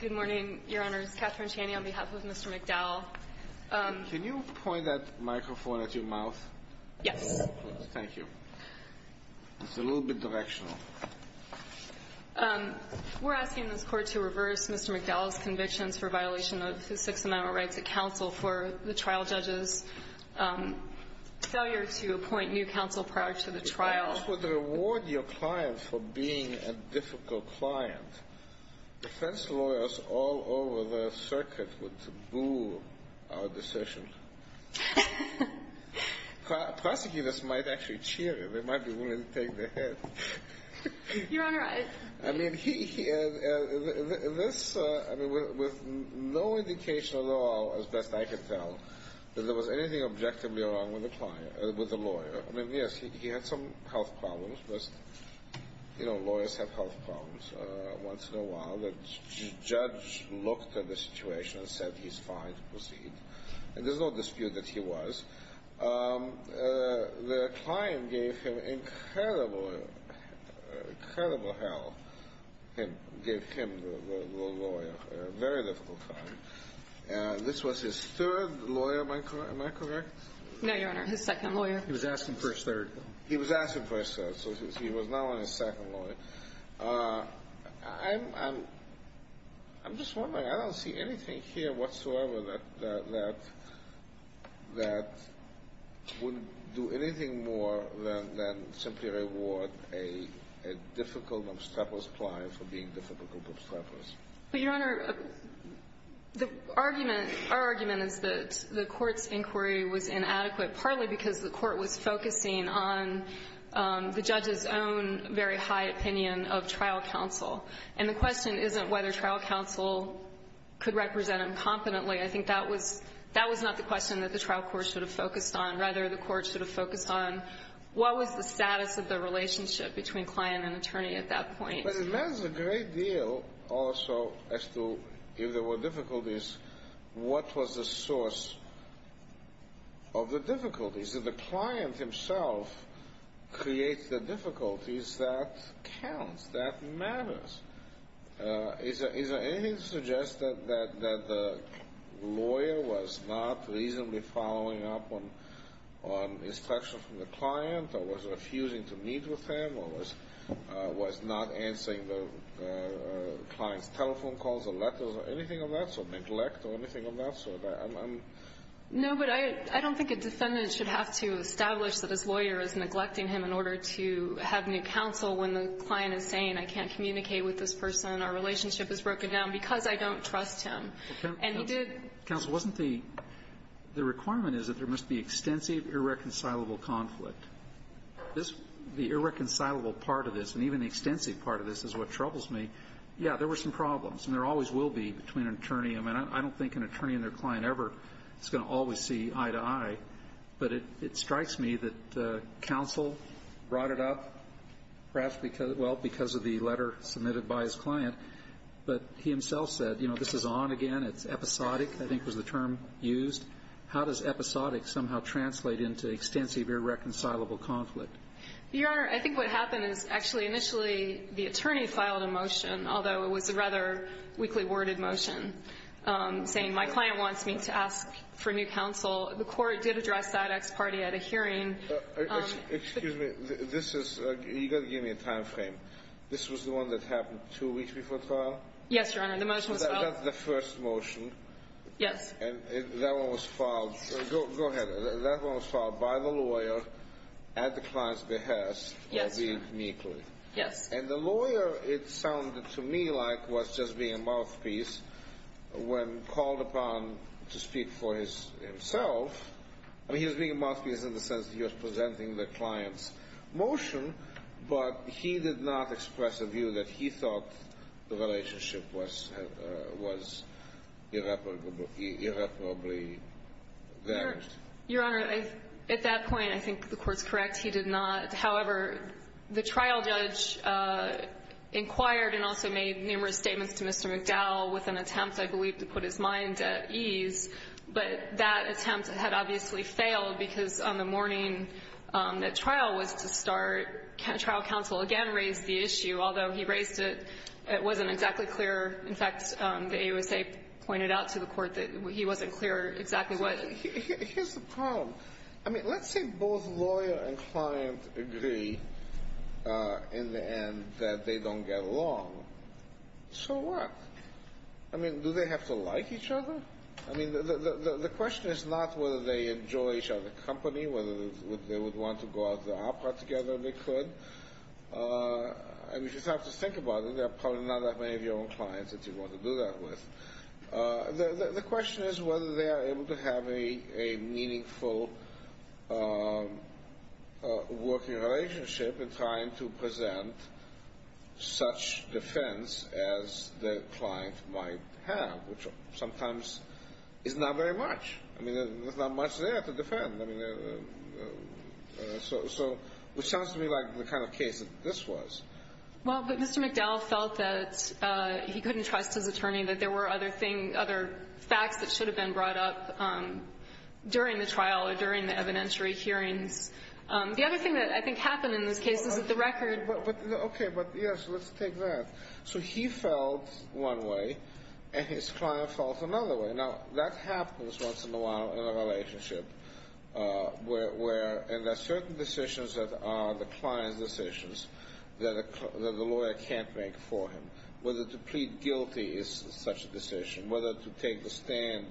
Good morning, Your Honors. Catherine Chaney on behalf of Mr. McDowell. Can you point that microphone at your mouth? Yes. Thank you. It's a little bit directional. We're asking this Court to reverse Mr. McDowell's convictions for violation of the Sixth Amendment rights at counsel for the trial judge's failure to appoint new counsel prior to the trial. If you were to reward your client for being a difficult client, defense lawyers all over the circuit would taboo our decision. Prosecutors might actually cheer you. They might be willing to take the hit. You're on the right. I mean, with no indication at all, as best I could tell, that there was anything objectively wrong with the lawyer. I mean, yes, he had some health problems, but lawyers have health problems. Once in a while, the judge looked at the situation and said, he's fine to proceed. There's no dispute that he was. The client gave him incredible, incredible help, gave him the lawyer, a very difficult client. This was his third lawyer, am I correct? No, Your Honor, his second lawyer. He was asked in first third. He was asked in first third, so he was now on his second lawyer. I'm just wondering. I don't see anything here whatsoever that would do anything more than simply reward a difficult, obstreperous client for being difficult, obstreperous. But, Your Honor, the argument, our argument is that the Court's inquiry was inadequate, partly because the Court was focusing on the judge's own very high opinion of trial counsel. And the question isn't whether trial counsel could represent him competently. I think that was not the question that the trial court should have focused on. Rather, the Court should have focused on what was the status of the relationship between client and attorney at that point. But it matters a great deal also as to if there were difficulties, what was the source of the difficulties. If the client himself creates the difficulties, that counts. That matters. Is there anything to suggest that the lawyer was not reasonably following up on instruction from the client, or was refusing to meet with him, or was not answering the client's telephone calls or letters or anything of that sort, neglect or anything of that sort? No, but I don't think a defendant should have to establish that his lawyer is neglecting him in order to have new counsel when the client is saying, I can't communicate with this person, our relationship is broken down, because I don't trust him. And he did. Counsel, wasn't the the requirement is that there must be extensive irreconcilable conflict. The irreconcilable part of this, and even the extensive part of this, is what troubles me. Yeah, there were some problems, and there always will be between an attorney and a man. I don't think an attorney and their client ever is going to always see eye to eye. But it strikes me that counsel brought it up, perhaps because, well, because of the letter submitted by his client. But he himself said, you know, this is on again. It's episodic, I think was the term used. How does episodic somehow translate into extensive irreconcilable conflict? Your Honor, I think what happened is actually initially the attorney filed a motion, although it was a rather weakly worded motion, saying my client wants me to ask for new counsel. The court did address that ex parte at a hearing. Excuse me. This is you got to give me a time frame. This was the one that happened two weeks before the trial? Yes, Your Honor. The motion was filed. That's the first motion. Yes. And that one was filed. Go ahead. That one was filed by the lawyer at the client's behest. Yes, Your Honor. Or being meekly. Yes. And the lawyer, it sounded to me like was just being a mouthpiece when called upon to speak for himself. I mean, he was being a mouthpiece in the sense that he was presenting the client's motion, but he did not express a view that he thought the relationship was irreparably damaged. Your Honor, at that point, I think the Court's correct. He did not. However, the trial judge inquired and also made numerous statements to Mr. McDowell with an attempt, I believe, to put his mind at ease, but that attempt had obviously failed because on the morning that trial was to start, trial counsel again raised the issue, although he raised it, it wasn't exactly clear. In fact, the AUSA pointed out to the Court that he wasn't clear exactly what. Here's the problem. I mean, let's say both lawyer and client agree in the end that they don't get along. So what? I mean, do they have to like each other? I mean, the question is not whether they enjoy each other's company, whether they would want to go out to the opera together if they could. I mean, if you have to think about it, there are probably not that many of your own clients that you'd want to do that with. The question is whether they are able to have a meaningful working relationship in trying to present such defense as the client might have, which sometimes is not very much. I mean, there's not much there to defend. I mean, so it sounds to me like the kind of case that this was. Well, but Mr. McDowell felt that he couldn't trust his attorney, that there were other facts that should have been brought up during the trial or during the evidentiary hearings. The other thing that I think happened in this case is that the record. Okay, but yes, let's take that. So he felt one way and his client felt another way. Now, that happens once in a while in a relationship where there are certain decisions that are the client's decisions that the lawyer can't make for him, whether to plead guilty is such a decision, whether to take the stand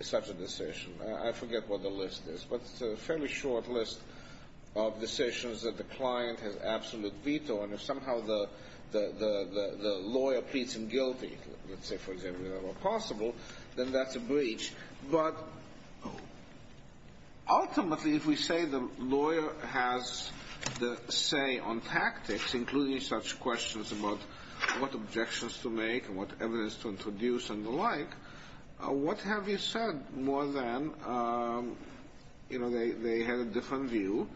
is such a decision. I forget what the list is, but it's a fairly short list of decisions that the client has absolute veto, and if somehow the lawyer pleads him guilty, let's say, for example, if that were possible, then that's a breach. But ultimately, if we say the lawyer has the say on tactics, including such questions about what objections to make and what evidence to introduce and the like, what have you said more than, you know, they had a different view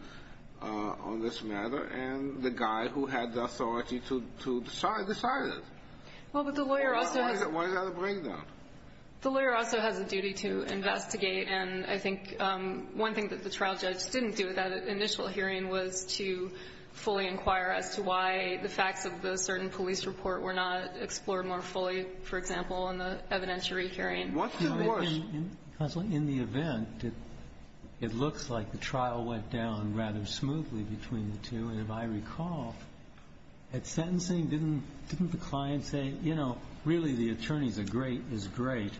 on this matter, and the guy who had the authority to decide decided. Why is that a breakdown? The lawyer also has a duty to investigate, and I think one thing that the trial judge didn't do at that initial hearing was to fully inquire as to why the facts of the certain police report were not explored more fully, for example, in the evidentiary hearing. What's the worst? Sotomayor In the event, it looks like the trial went down rather smoothly between the two, and if I recall, at sentencing, didn't the client say, you know, really, the attorneys are great, is great.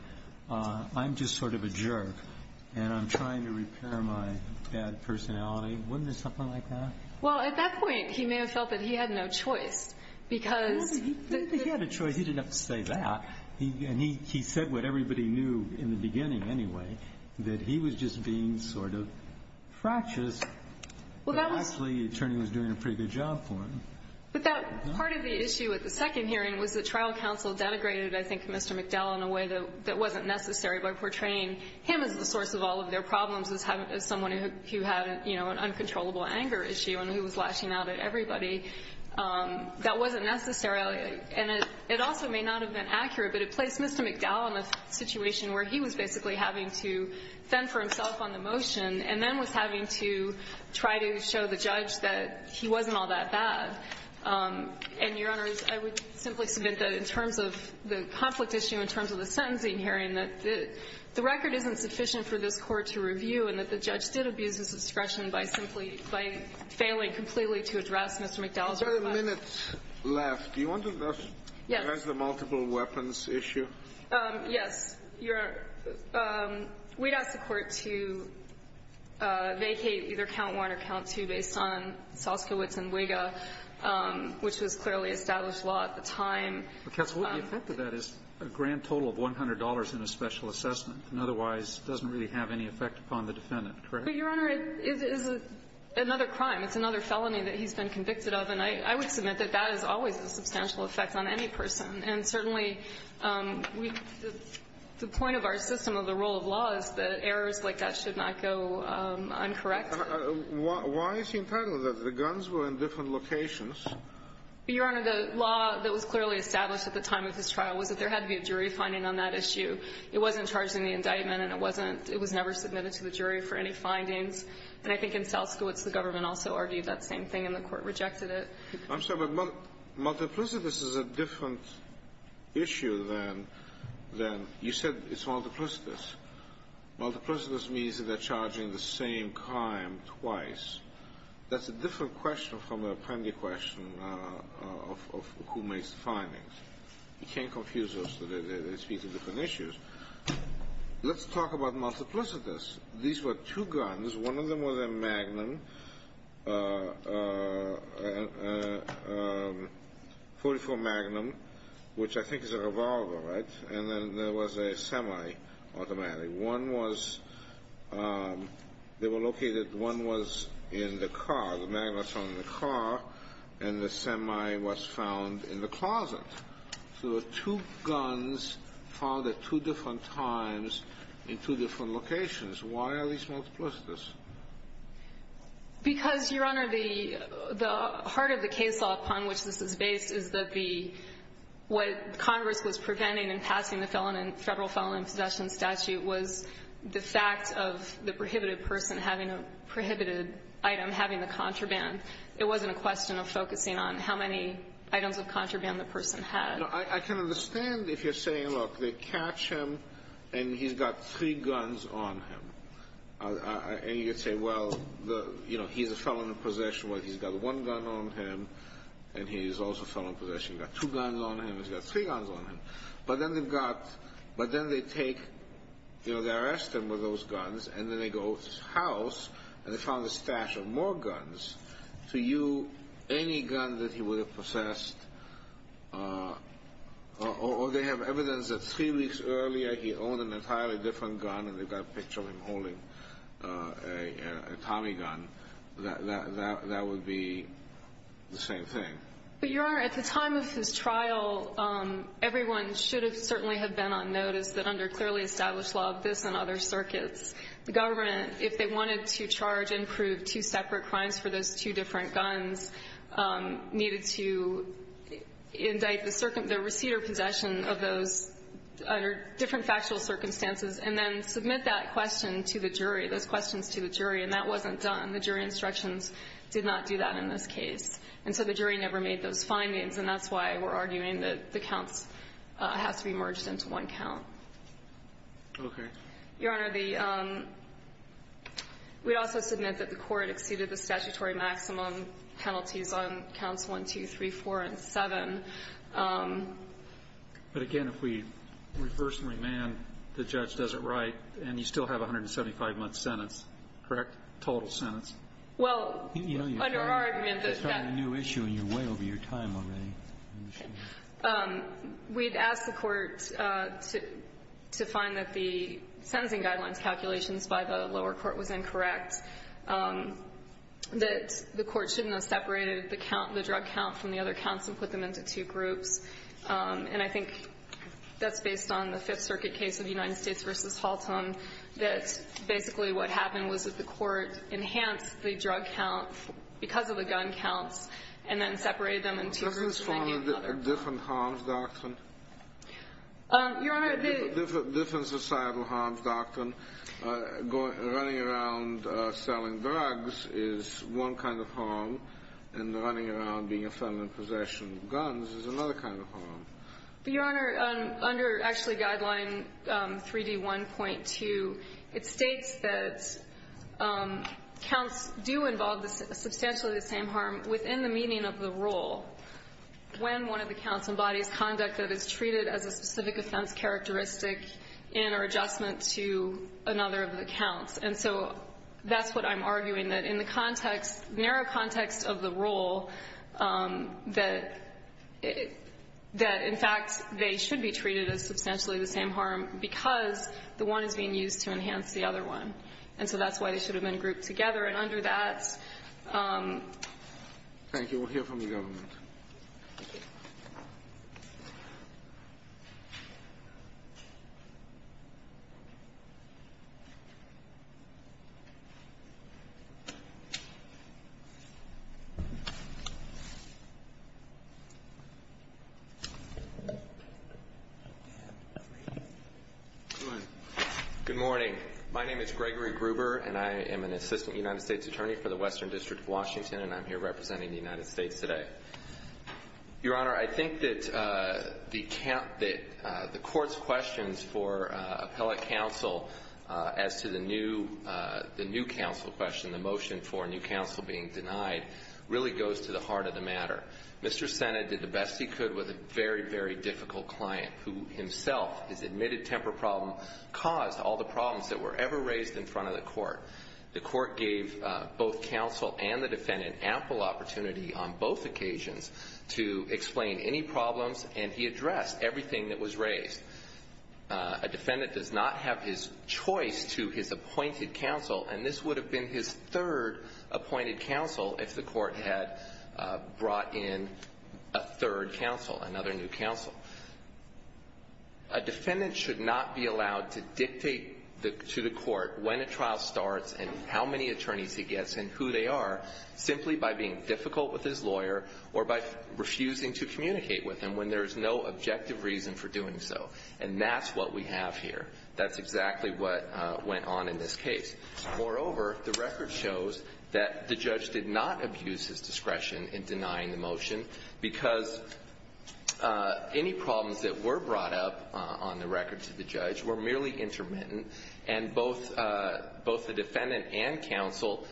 I'm just sort of a jerk, and I'm trying to repair my bad personality. Wasn't there something like that? Well, at that point, he may have felt that he had no choice, because the other choice he didn't have to say that, and he said what everybody knew in the beginning anyway, that he was just being sort of fractious, but actually the attorney was doing a pretty good job for him. But that part of the issue at the second hearing was that trial counsel denigrated, I think, Mr. McDowell in a way that wasn't necessary by portraying him as the source of all of their problems, as someone who had, you know, an uncontrollable anger issue and who was lashing out at everybody. That wasn't necessary, and it also may not have been accurate, but it placed Mr. McDowell in a situation where he was basically having to fend for himself on the motion and then was having to try to show the judge that he wasn't all that bad. And, Your Honors, I would simply submit that in terms of the conflict issue, in terms of the sentencing hearing, that the record isn't sufficient for this Court to review and that the judge did abuse his discretion by simply by failing completely to address Mr. McDowell's request. There are minutes left. Do you want to address the multiple weapons issue? Yes. We'd ask the Court to vacate either count one or count two based on Soskowitz and Wiga, which was clearly established law at the time. But, Katz, the effect of that is a grand total of $100 in a special assessment and otherwise doesn't really have any effect upon the defendant, correct? But, Your Honor, it is another crime. It's another felony that he's been convicted of. And I would submit that that is always a substantial effect on any person. And certainly, the point of our system of the rule of law is that errors like that should not go uncorrect. Why is he entitled to that? The guns were in different locations. Your Honor, the law that was clearly established at the time of his trial was that there had to be a jury finding on that issue. It wasn't charged in the indictment, and it wasn't – it was never submitted to the jury for any findings. And I think in Soskowitz, the government also argued that same thing, and the Court rejected it. I'm sorry, but multiplicitous is a different issue than – than – you said it's multiplicitous. Multiplicitous means that they're charging the same crime twice. That's a different question from the appendix question of who makes the findings. You can't confuse those. They speak to different issues. Let's talk about multiplicitous. These were two guns. One of them was a Magnum, .44 Magnum, which I think is a revolver, right? And then there was a semi-automatic. One was – they were located – one was in the car. The Magnum was found in the car, and the semi was found in the closet. So the two guns found at two different times in two different locations. Why are these multiplicitous? Because, Your Honor, the – the heart of the case law upon which this is based is that the – what Congress was preventing in passing the Federal Felony Possession Statute was the fact of the prohibited person having a – prohibited item having the contraband. It wasn't a question of focusing on how many items of contraband the person had. No. I can understand if you're saying, look, they catch him and he's got three guns on him. And you say, well, the – you know, he's a felon in possession. Well, he's got one gun on him, and he's also a felon in possession. He's got two guns on him. He's got three guns on him. But then they've got – but then they take – you know, they arrest him with those guns, and then they go over to his house, and they found a stash of more guns. To you, any gun that he would have possessed – or they have evidence that three weeks earlier he owned an entirely different gun, and they've got a picture of him holding a Tommy gun, that would be the same thing. But, Your Honor, at the time of his trial, everyone should have certainly have been on notice that under clearly established law of this and other circuits, the government, if they wanted to charge and prove two separate crimes for those two different guns, needed to indict the receiver possession of those under different factual circumstances, and then submit that question to the jury, those questions to the jury. And that wasn't done. The jury instructions did not do that in this case. And so the jury never made those findings, and that's why we're arguing that the counts have to be merged into one count. Okay. Your Honor, the – we also submit that the court exceeded the statutory maximum penalties on counts 1, 2, 3, 4, and 7. But, again, if we reverse and remand, the judge does it right, and you still have 175-month sentence, correct? Total sentence. Well, under our argument that that – You know, you're starting a new issue, and you're way over your time already. Okay. We'd ask the court to find that the sentencing guidelines calculations by the lower court was incorrect, that the court shouldn't have separated the count, the drug count, from the other counts and put them into two groups. And I think that's based on the Fifth Circuit case of United States v. Halton, that basically what happened was that the court enhanced the drug count because of the gun counts and then separated them in two groups and then hit the other. Is there a different harms doctrine? Your Honor, the – Different societal harms doctrine. Running around selling drugs is one kind of harm, and running around being a felon in possession of guns is another kind of harm. Your Honor, under, actually, Guideline 3D1.2, it states that counts do involve substantially the same harm within the meaning of the rule when one of the counts embodies conduct that is treated as a specific offense characteristic in or adjustment to another of the counts. And so that's what I'm arguing, that in the context, narrow context of the rule, that in fact they should be treated as substantially the same harm because the one is being used to enhance the other one. And so that's why they should have been grouped together. And under that – Thank you. We'll hear from the government. Good morning. My name is Gregory Gruber, and I am an Assistant United States Attorney for the Western States today. Your Honor, I think that the court's questions for appellate counsel as to the new counsel question, the motion for a new counsel being denied, really goes to the heart of the matter. Mr. Sena did the best he could with a very, very difficult client who himself, his admitted temper problem caused all the problems that were ever raised in front of the court. The court gave both counsel and the defendant ample opportunity on both occasions to explain any problems, and he addressed everything that was raised. A defendant does not have his choice to his appointed counsel, and this would have been his third appointed counsel if the court had brought in a third counsel, another new counsel. A defendant should not be allowed to dictate to the court when a trial starts and how many attorneys he gets and who they are simply by being difficult with his lawyer or by refusing to communicate with him when there is no objective reason for doing so. And that's what we have here. That's exactly what went on in this case. Moreover, the record shows that the judge did not abuse his discretion in denying the motion because any problems that were brought up on the record to the judge were merely intermittent, and both the defendant and counsel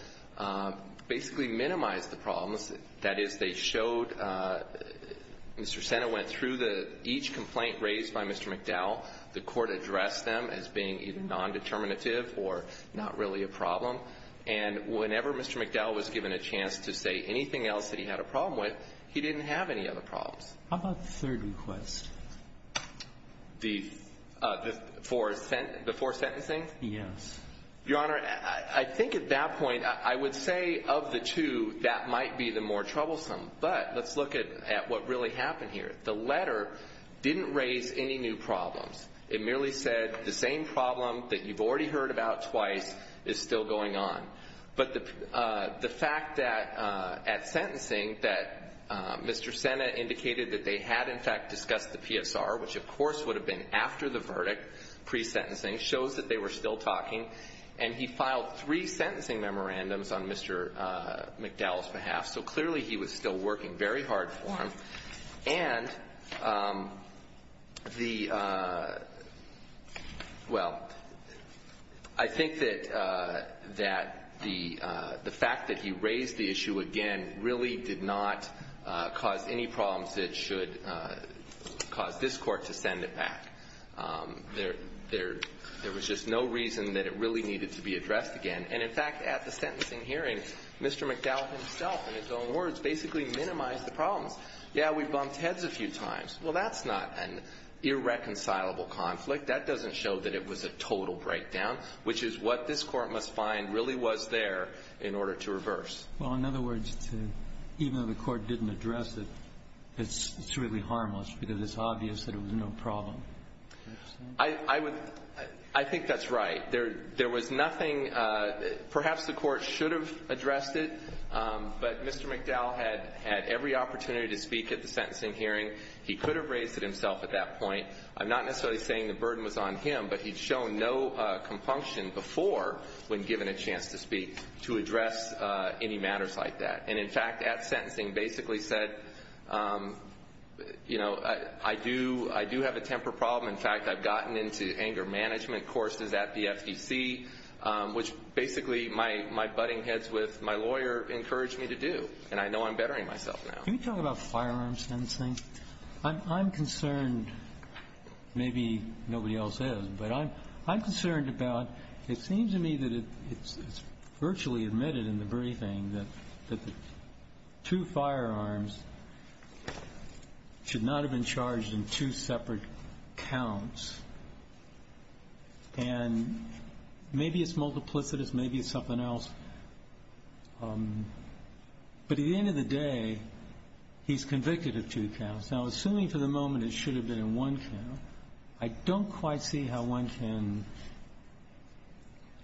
basically minimized the problems. That is, they showed Mr. Sena went through each complaint raised by Mr. McDowell. The court addressed them as being either nondeterminative or not really a problem. And whenever Mr. McDowell was given a chance to say anything else that he had a problem with, he didn't have any other problems. How about the third request? The four sentencing? Yes. Your Honor, I think at that point, I would say of the two, that might be the more troublesome. But let's look at what really happened here. The letter didn't raise any new problems. It merely said the same problem that you've already heard about twice is still going on. But the fact that at sentencing that Mr. Sena indicated that they had, in fact, discussed the PSR, which of course would have been after the verdict, pre-sentencing, shows that they were still talking, and he filed three sentencing memorandums on Mr. McDowell's behalf. So clearly he was still working very hard for him. And the, well, I think that the fact that he raised the issue again really did not cause any problems that should cause this Court to send it back. There was just no reason that it really needed to be addressed again. And, in fact, at the sentencing hearing, Mr. McDowell himself, in his own words, basically minimized the problems. Yeah, we bumped heads a few times. Well, that's not an irreconcilable conflict. That doesn't show that it was a total breakdown, which is what this Court must find really was there in order to reverse. Well, in other words, even though the Court didn't address it, it's really harmless because it's obvious that it was no problem. I would, I think that's right. There was nothing, perhaps the Court should have addressed it, but Mr. McDowell had had every opportunity to speak at the sentencing hearing. He could have raised it himself at that point. I'm not necessarily saying the burden was on him, but he'd shown no compunction before when given a chance to speak to address any matters like that. And, in fact, at sentencing basically said, you know, I do have a temper problem. In fact, I've gotten into anger management courses at the FEC, which basically my lawyer encouraged me to do, and I know I'm bettering myself now. Can you talk about firearms sentencing? I'm concerned, maybe nobody else is, but I'm concerned about, it seems to me that it's virtually admitted in the briefing that the two firearms should not have been charged in two separate counts. And maybe it's multiplicitous, maybe it's something else. But at the end of the day, he's convicted of two counts. Now, assuming for the moment it should have been in one count, I don't quite see how one can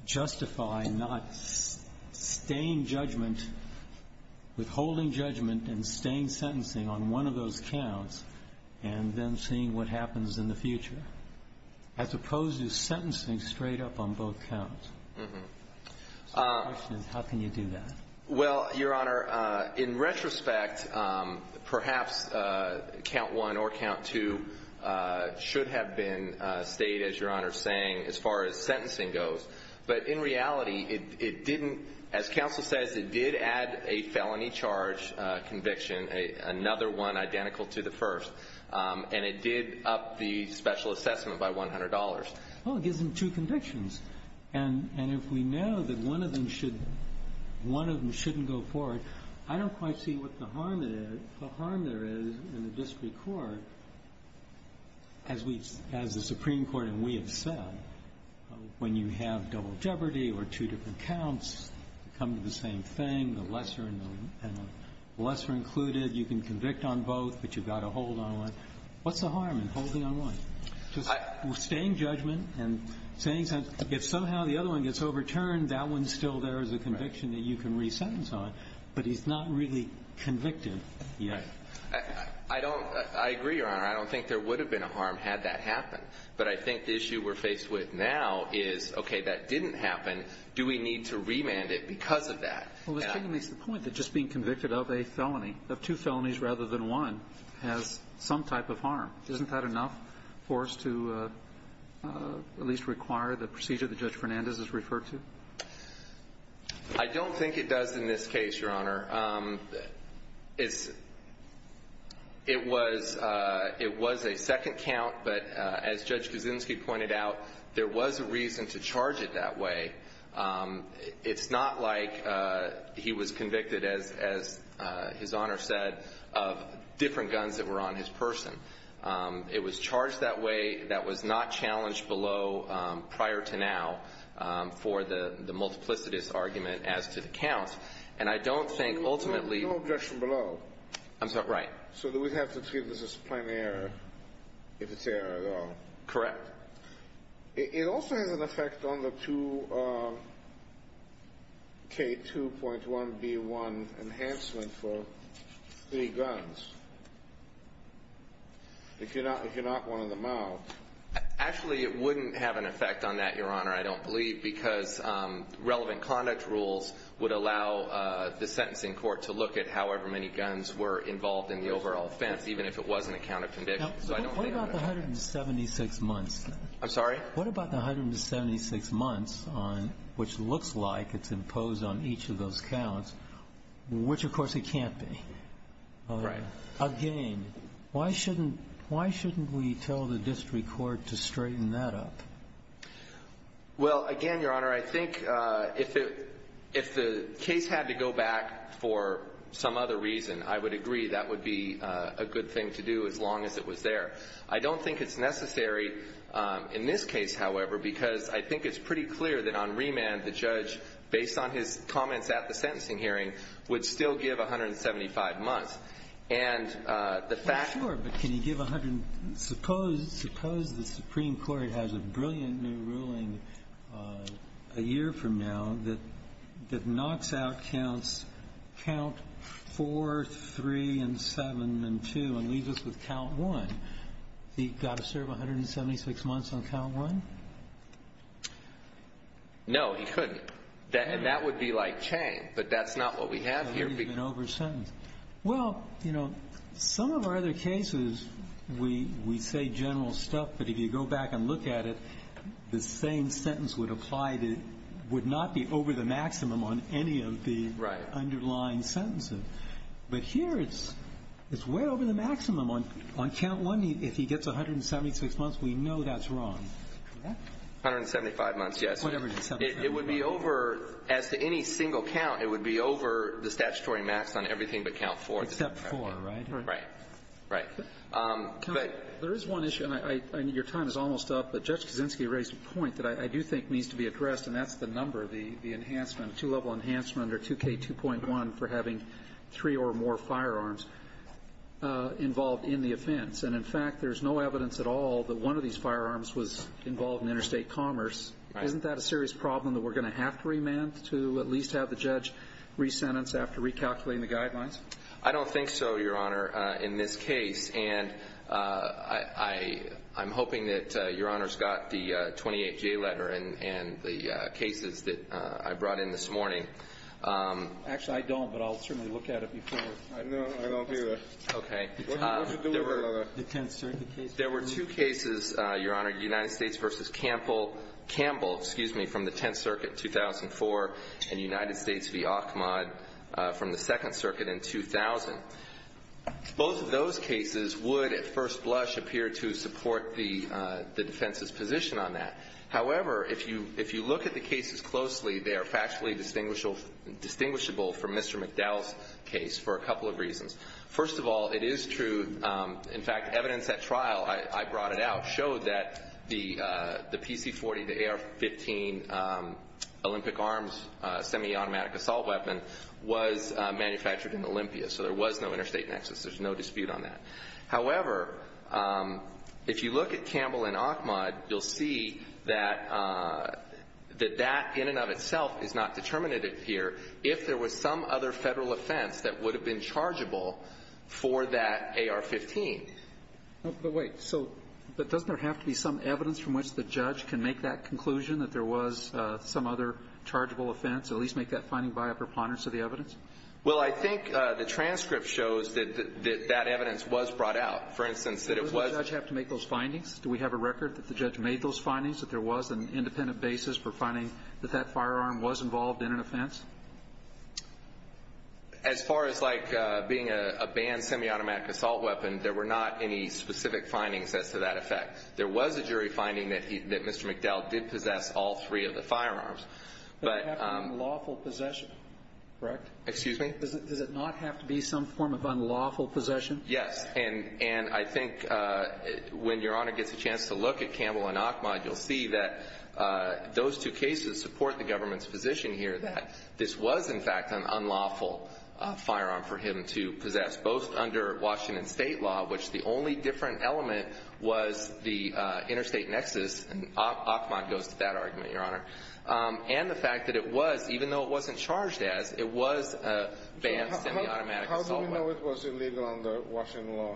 justify not staying judgment, withholding judgment and staying sentencing on one of those counts and then seeing what happens in the future, as opposed to sentencing straight up on both counts. So the question is, how can you do that? Well, Your Honor, in retrospect, perhaps count one or count two should have been stayed, as Your Honor is saying, as far as sentencing goes. But in reality, it didn't. As counsel says, it did add a felony charge conviction, another one identical to the first, and it did up the special assessment by $100. Well, it gives them two convictions. And if we know that one of them shouldn't go forward, I don't quite see what the harm there is in the district court, as the Supreme Court and we have said, when you have double jeopardy or two different counts, come to the same thing, the lesser included, you can convict on both, but you've got to hold on one. What's the harm in holding on one? Just staying judgment and saying, if somehow the other one gets overturned, that one's still there as a conviction that you can resentence on. But he's not really convicted yet. I don't – I agree, Your Honor. I don't think there would have been a harm had that happened. But I think the issue we're faced with now is, okay, that didn't happen. Do we need to remand it because of that? Well, Mr. King makes the point that just being convicted of a felony, of two felonies rather than one, has some type of harm. Isn't that enough for us to at least require the procedure that Judge Fernandez has referred to? I don't think it does in this case, Your Honor. It's – it was a second count, but as Judge Kuczynski pointed out, there was a reason to charge it that way. It's not like he was convicted, as His Honor said, of different guns that were on his person. It was charged that way. That was not challenged below prior to now for the multiplicitous argument as to the counts. And I don't think ultimately— No objection below. I'm sorry. Right. So we have to treat this as a plain error if it's error at all. Correct. It also has an effect on the 2K2.1B1 enhancement for three guns, if you're not one of them all. Actually, it wouldn't have an effect on that, Your Honor, I don't believe, because relevant conduct rules would allow the sentencing court to look at however many guns were involved in the overall offense, even if it wasn't a count of conviction. Now, what about the 176 months? I'm sorry? What about the 176 months on – which looks like it's imposed on each of those counts, which, of course, it can't be? Right. Again, why shouldn't – why shouldn't we tell the district court to straighten that up? Well, again, Your Honor, I think if it – if the case had to go back for some other reason, I would agree that would be a good thing to do as long as it was there. I don't think it's necessary in this case, however, because I think it's pretty clear that on remand the judge, based on his comments at the sentencing hearing, would still give 175 months. And the fact— Well, he's got a brilliant new ruling a year from now that knocks out counts count 4, 3, and 7, and 2, and leaves us with count 1. He's got to serve 176 months on count 1? No, he couldn't. And that would be like chain, but that's not what we have here. That would be an over-sentence. Well, you know, some of our other cases, we say general stuff, but if you go back and look at it, the same sentence would apply to – would not be over the maximum on any of the underlying sentences. Right. But here it's way over the maximum. On count 1, if he gets 176 months, we know that's wrong. Correct? 175 months, yes. It would be over – as to any single count, it would be over the statutory max on everything but count 4. Except 4, right? Right. Right. There is one issue, and your time is almost up, but Judge Kaczynski raised a point that I do think needs to be addressed, and that's the number, the enhancement, two-level enhancement under 2K2.1 for having three or more firearms involved in the offense. And, in fact, there's no evidence at all that one of these firearms was involved in interstate commerce. Isn't that a serious problem that we're going to have to remand to at least have the judge resentence after recalculating the guidelines? I don't think so, Your Honor, in this case. And I'm hoping that Your Honor's got the 28-J letter and the cases that I brought in this morning. Actually, I don't, but I'll certainly look at it before. No, I don't either. Okay. What did you do with the Tenth Circuit case? There were two cases, Your Honor, United States v. Campbell, excuse me, from the United States v. Ahmad from the Second Circuit in 2000. Both of those cases would at first blush appear to support the defense's position on that. However, if you look at the cases closely, they are factually distinguishable from Mr. McDowell's case for a couple of reasons. First of all, it is true, in fact, evidence at trial, I brought it out, showed that the PC-40, the AR-15 Olympic Arms semi-automatic assault weapon was manufactured in Olympia, so there was no interstate nexus. There's no dispute on that. However, if you look at Campbell and Ahmad, you'll see that that in and of itself is not determinative here if there was some other Federal offense that would have been chargeable for that AR-15. But wait. So doesn't there have to be some evidence from which the judge can make that conclusion that there was some other chargeable offense, at least make that finding by a preponderance of the evidence? Well, I think the transcript shows that that evidence was brought out. For instance, that it was Doesn't the judge have to make those findings? Do we have a record that the judge made those findings, that there was an independent basis for finding that that firearm was involved in an offense? As far as like being a banned semi-automatic assault weapon, there were not any specific findings as to that effect. There was a jury finding that Mr. McDowell did possess all three of the firearms. But Does it have to be unlawful possession? Correct? Excuse me? Does it not have to be some form of unlawful possession? Yes. And I think when Your Honor gets a chance to look at Campbell and Ahmad, you'll see that those two cases support the government's position here that this was, in fact, an unlawful firearm for him to possess, both under Washington State law, which the only different element was the interstate nexus. And Ahmad goes to that argument, Your Honor. And the fact that it was, even though it wasn't charged as, it was a banned semi-automatic assault weapon. How do we know it was illegal under Washington law?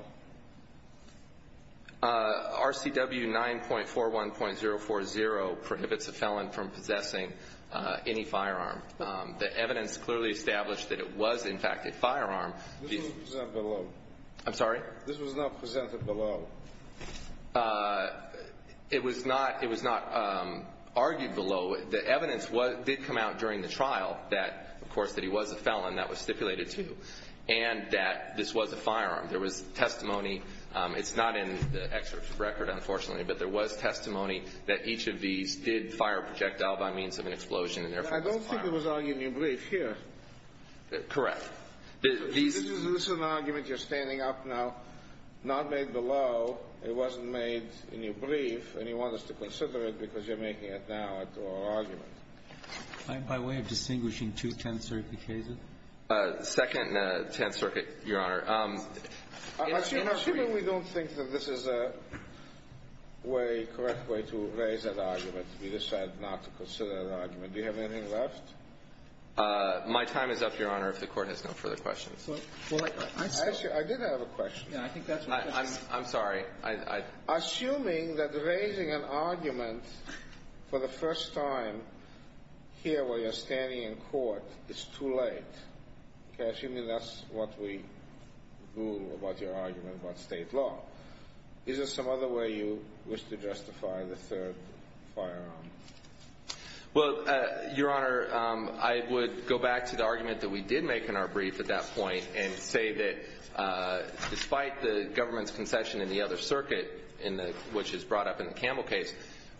RCW 9.41.040 prohibits a felon from possessing any firearm. The evidence clearly established that it was, in fact, a firearm. This was not presented below. I'm sorry? This was not presented below. It was not argued below. The evidence did come out during the trial that, of course, that he was a felon. That was stipulated, too. And that this was a firearm. There was testimony. It's not in the excerpt record, unfortunately. But there was testimony that each of these did fire a projectile by means of an explosion and, therefore, was a firearm. I don't think it was argued in your brief here. Correct. This is an argument you're standing up now, not made below. It wasn't made in your brief. And you want us to consider it because you're making it now into our argument. By way of distinguishing two Tenth Circuit cases? Second Tenth Circuit, Your Honor. Assuming we don't think that this is a correct way to raise that argument, we decide not to consider that argument. Do you have anything left? My time is up, Your Honor, if the Court has no further questions. Actually, I did have a question. I'm sorry. Assuming that raising an argument for the first time here where you're standing in court is too late. Assuming that's what we do about your argument about state law, is there some other way you wish to justify the third firearm? Well, Your Honor, I would go back to the argument that we did make in our brief at that point and say that despite the government's concession in the other circuit, which is brought up in the Campbell case,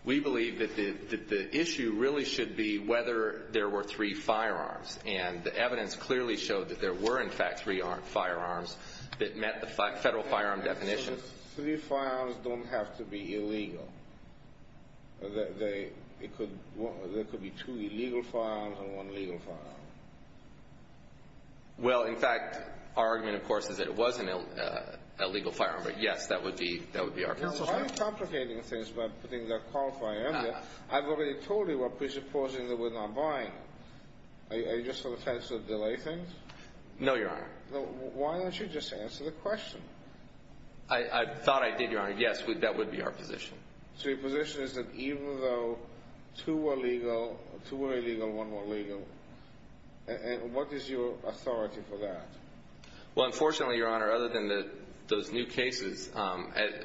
we believe that the issue really should be whether there were three firearms. And the evidence clearly showed that there were, in fact, three firearms that met the federal firearm definition. So three firearms don't have to be illegal. There could be two illegal firearms and one legal firearm. Well, in fact, our argument, of course, is that it was an illegal firearm. But, yes, that would be our concession. I'm complicating things by putting that qualifying argument. I've already told you we're presupposing that we're not buying it. Are you just trying to delay things? No, Your Honor. Why don't you just answer the question? I thought I did, Your Honor. Yes, that would be our position. So your position is that even though two were illegal, two were illegal and one were legal, what is your authority for that? Well, unfortunately, Your Honor, other than those new cases,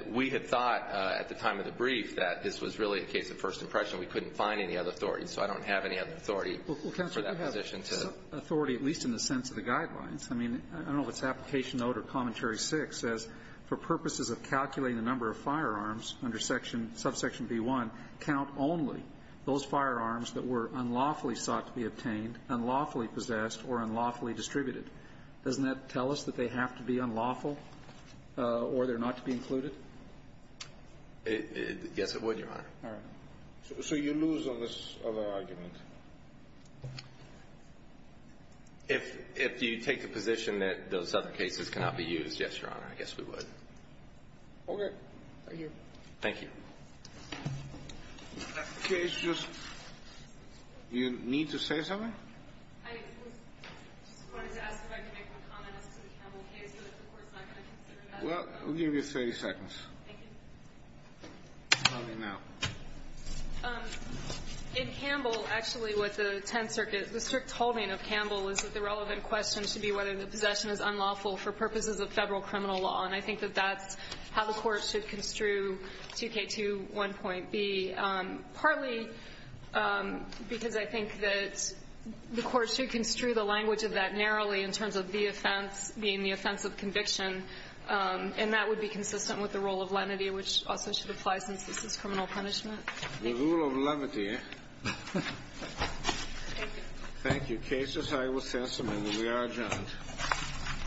we had thought at the time of the brief that this was really a case of first impression. We couldn't find any other authority, so I don't have any other authority for that position. Well, Counselor, you have authority, at least in the sense of the guidelines. I mean, I don't know if it's Application Note or Commentary 6 says, for purposes of calculating the number of firearms under Subsection B-1, count only those firearms that were unlawfully sought to be obtained, unlawfully possessed, or unlawfully distributed. Doesn't that tell us that they have to be unlawful or they're not to be included? Yes, it would, Your Honor. All right. So you lose on this other argument. If you take the position that those other cases cannot be used, yes, Your Honor, I guess we would. Okay. Thank you. Thank you. That case just – you need to say something? I just wanted to ask if I could make one comment as to the Campbell case, but the Court's not going to consider that. Well, we'll give you 30 seconds. Thank you. In Campbell, actually, with the Tenth Circuit, the strict holding of Campbell is that the relevant question should be whether the possession is unlawful for purposes of Federal criminal law, and I think that that's how the Court should construe 2K21.B, partly because I think that the Court should construe the language of that narrowly in terms of the offense being the offense of conviction, and that would be consistent with the rule of lenity, which also should apply since this is criminal punishment. Thank you. The rule of lenity. Thank you. Thank you. Case is high. We'll send someone. We are adjourned.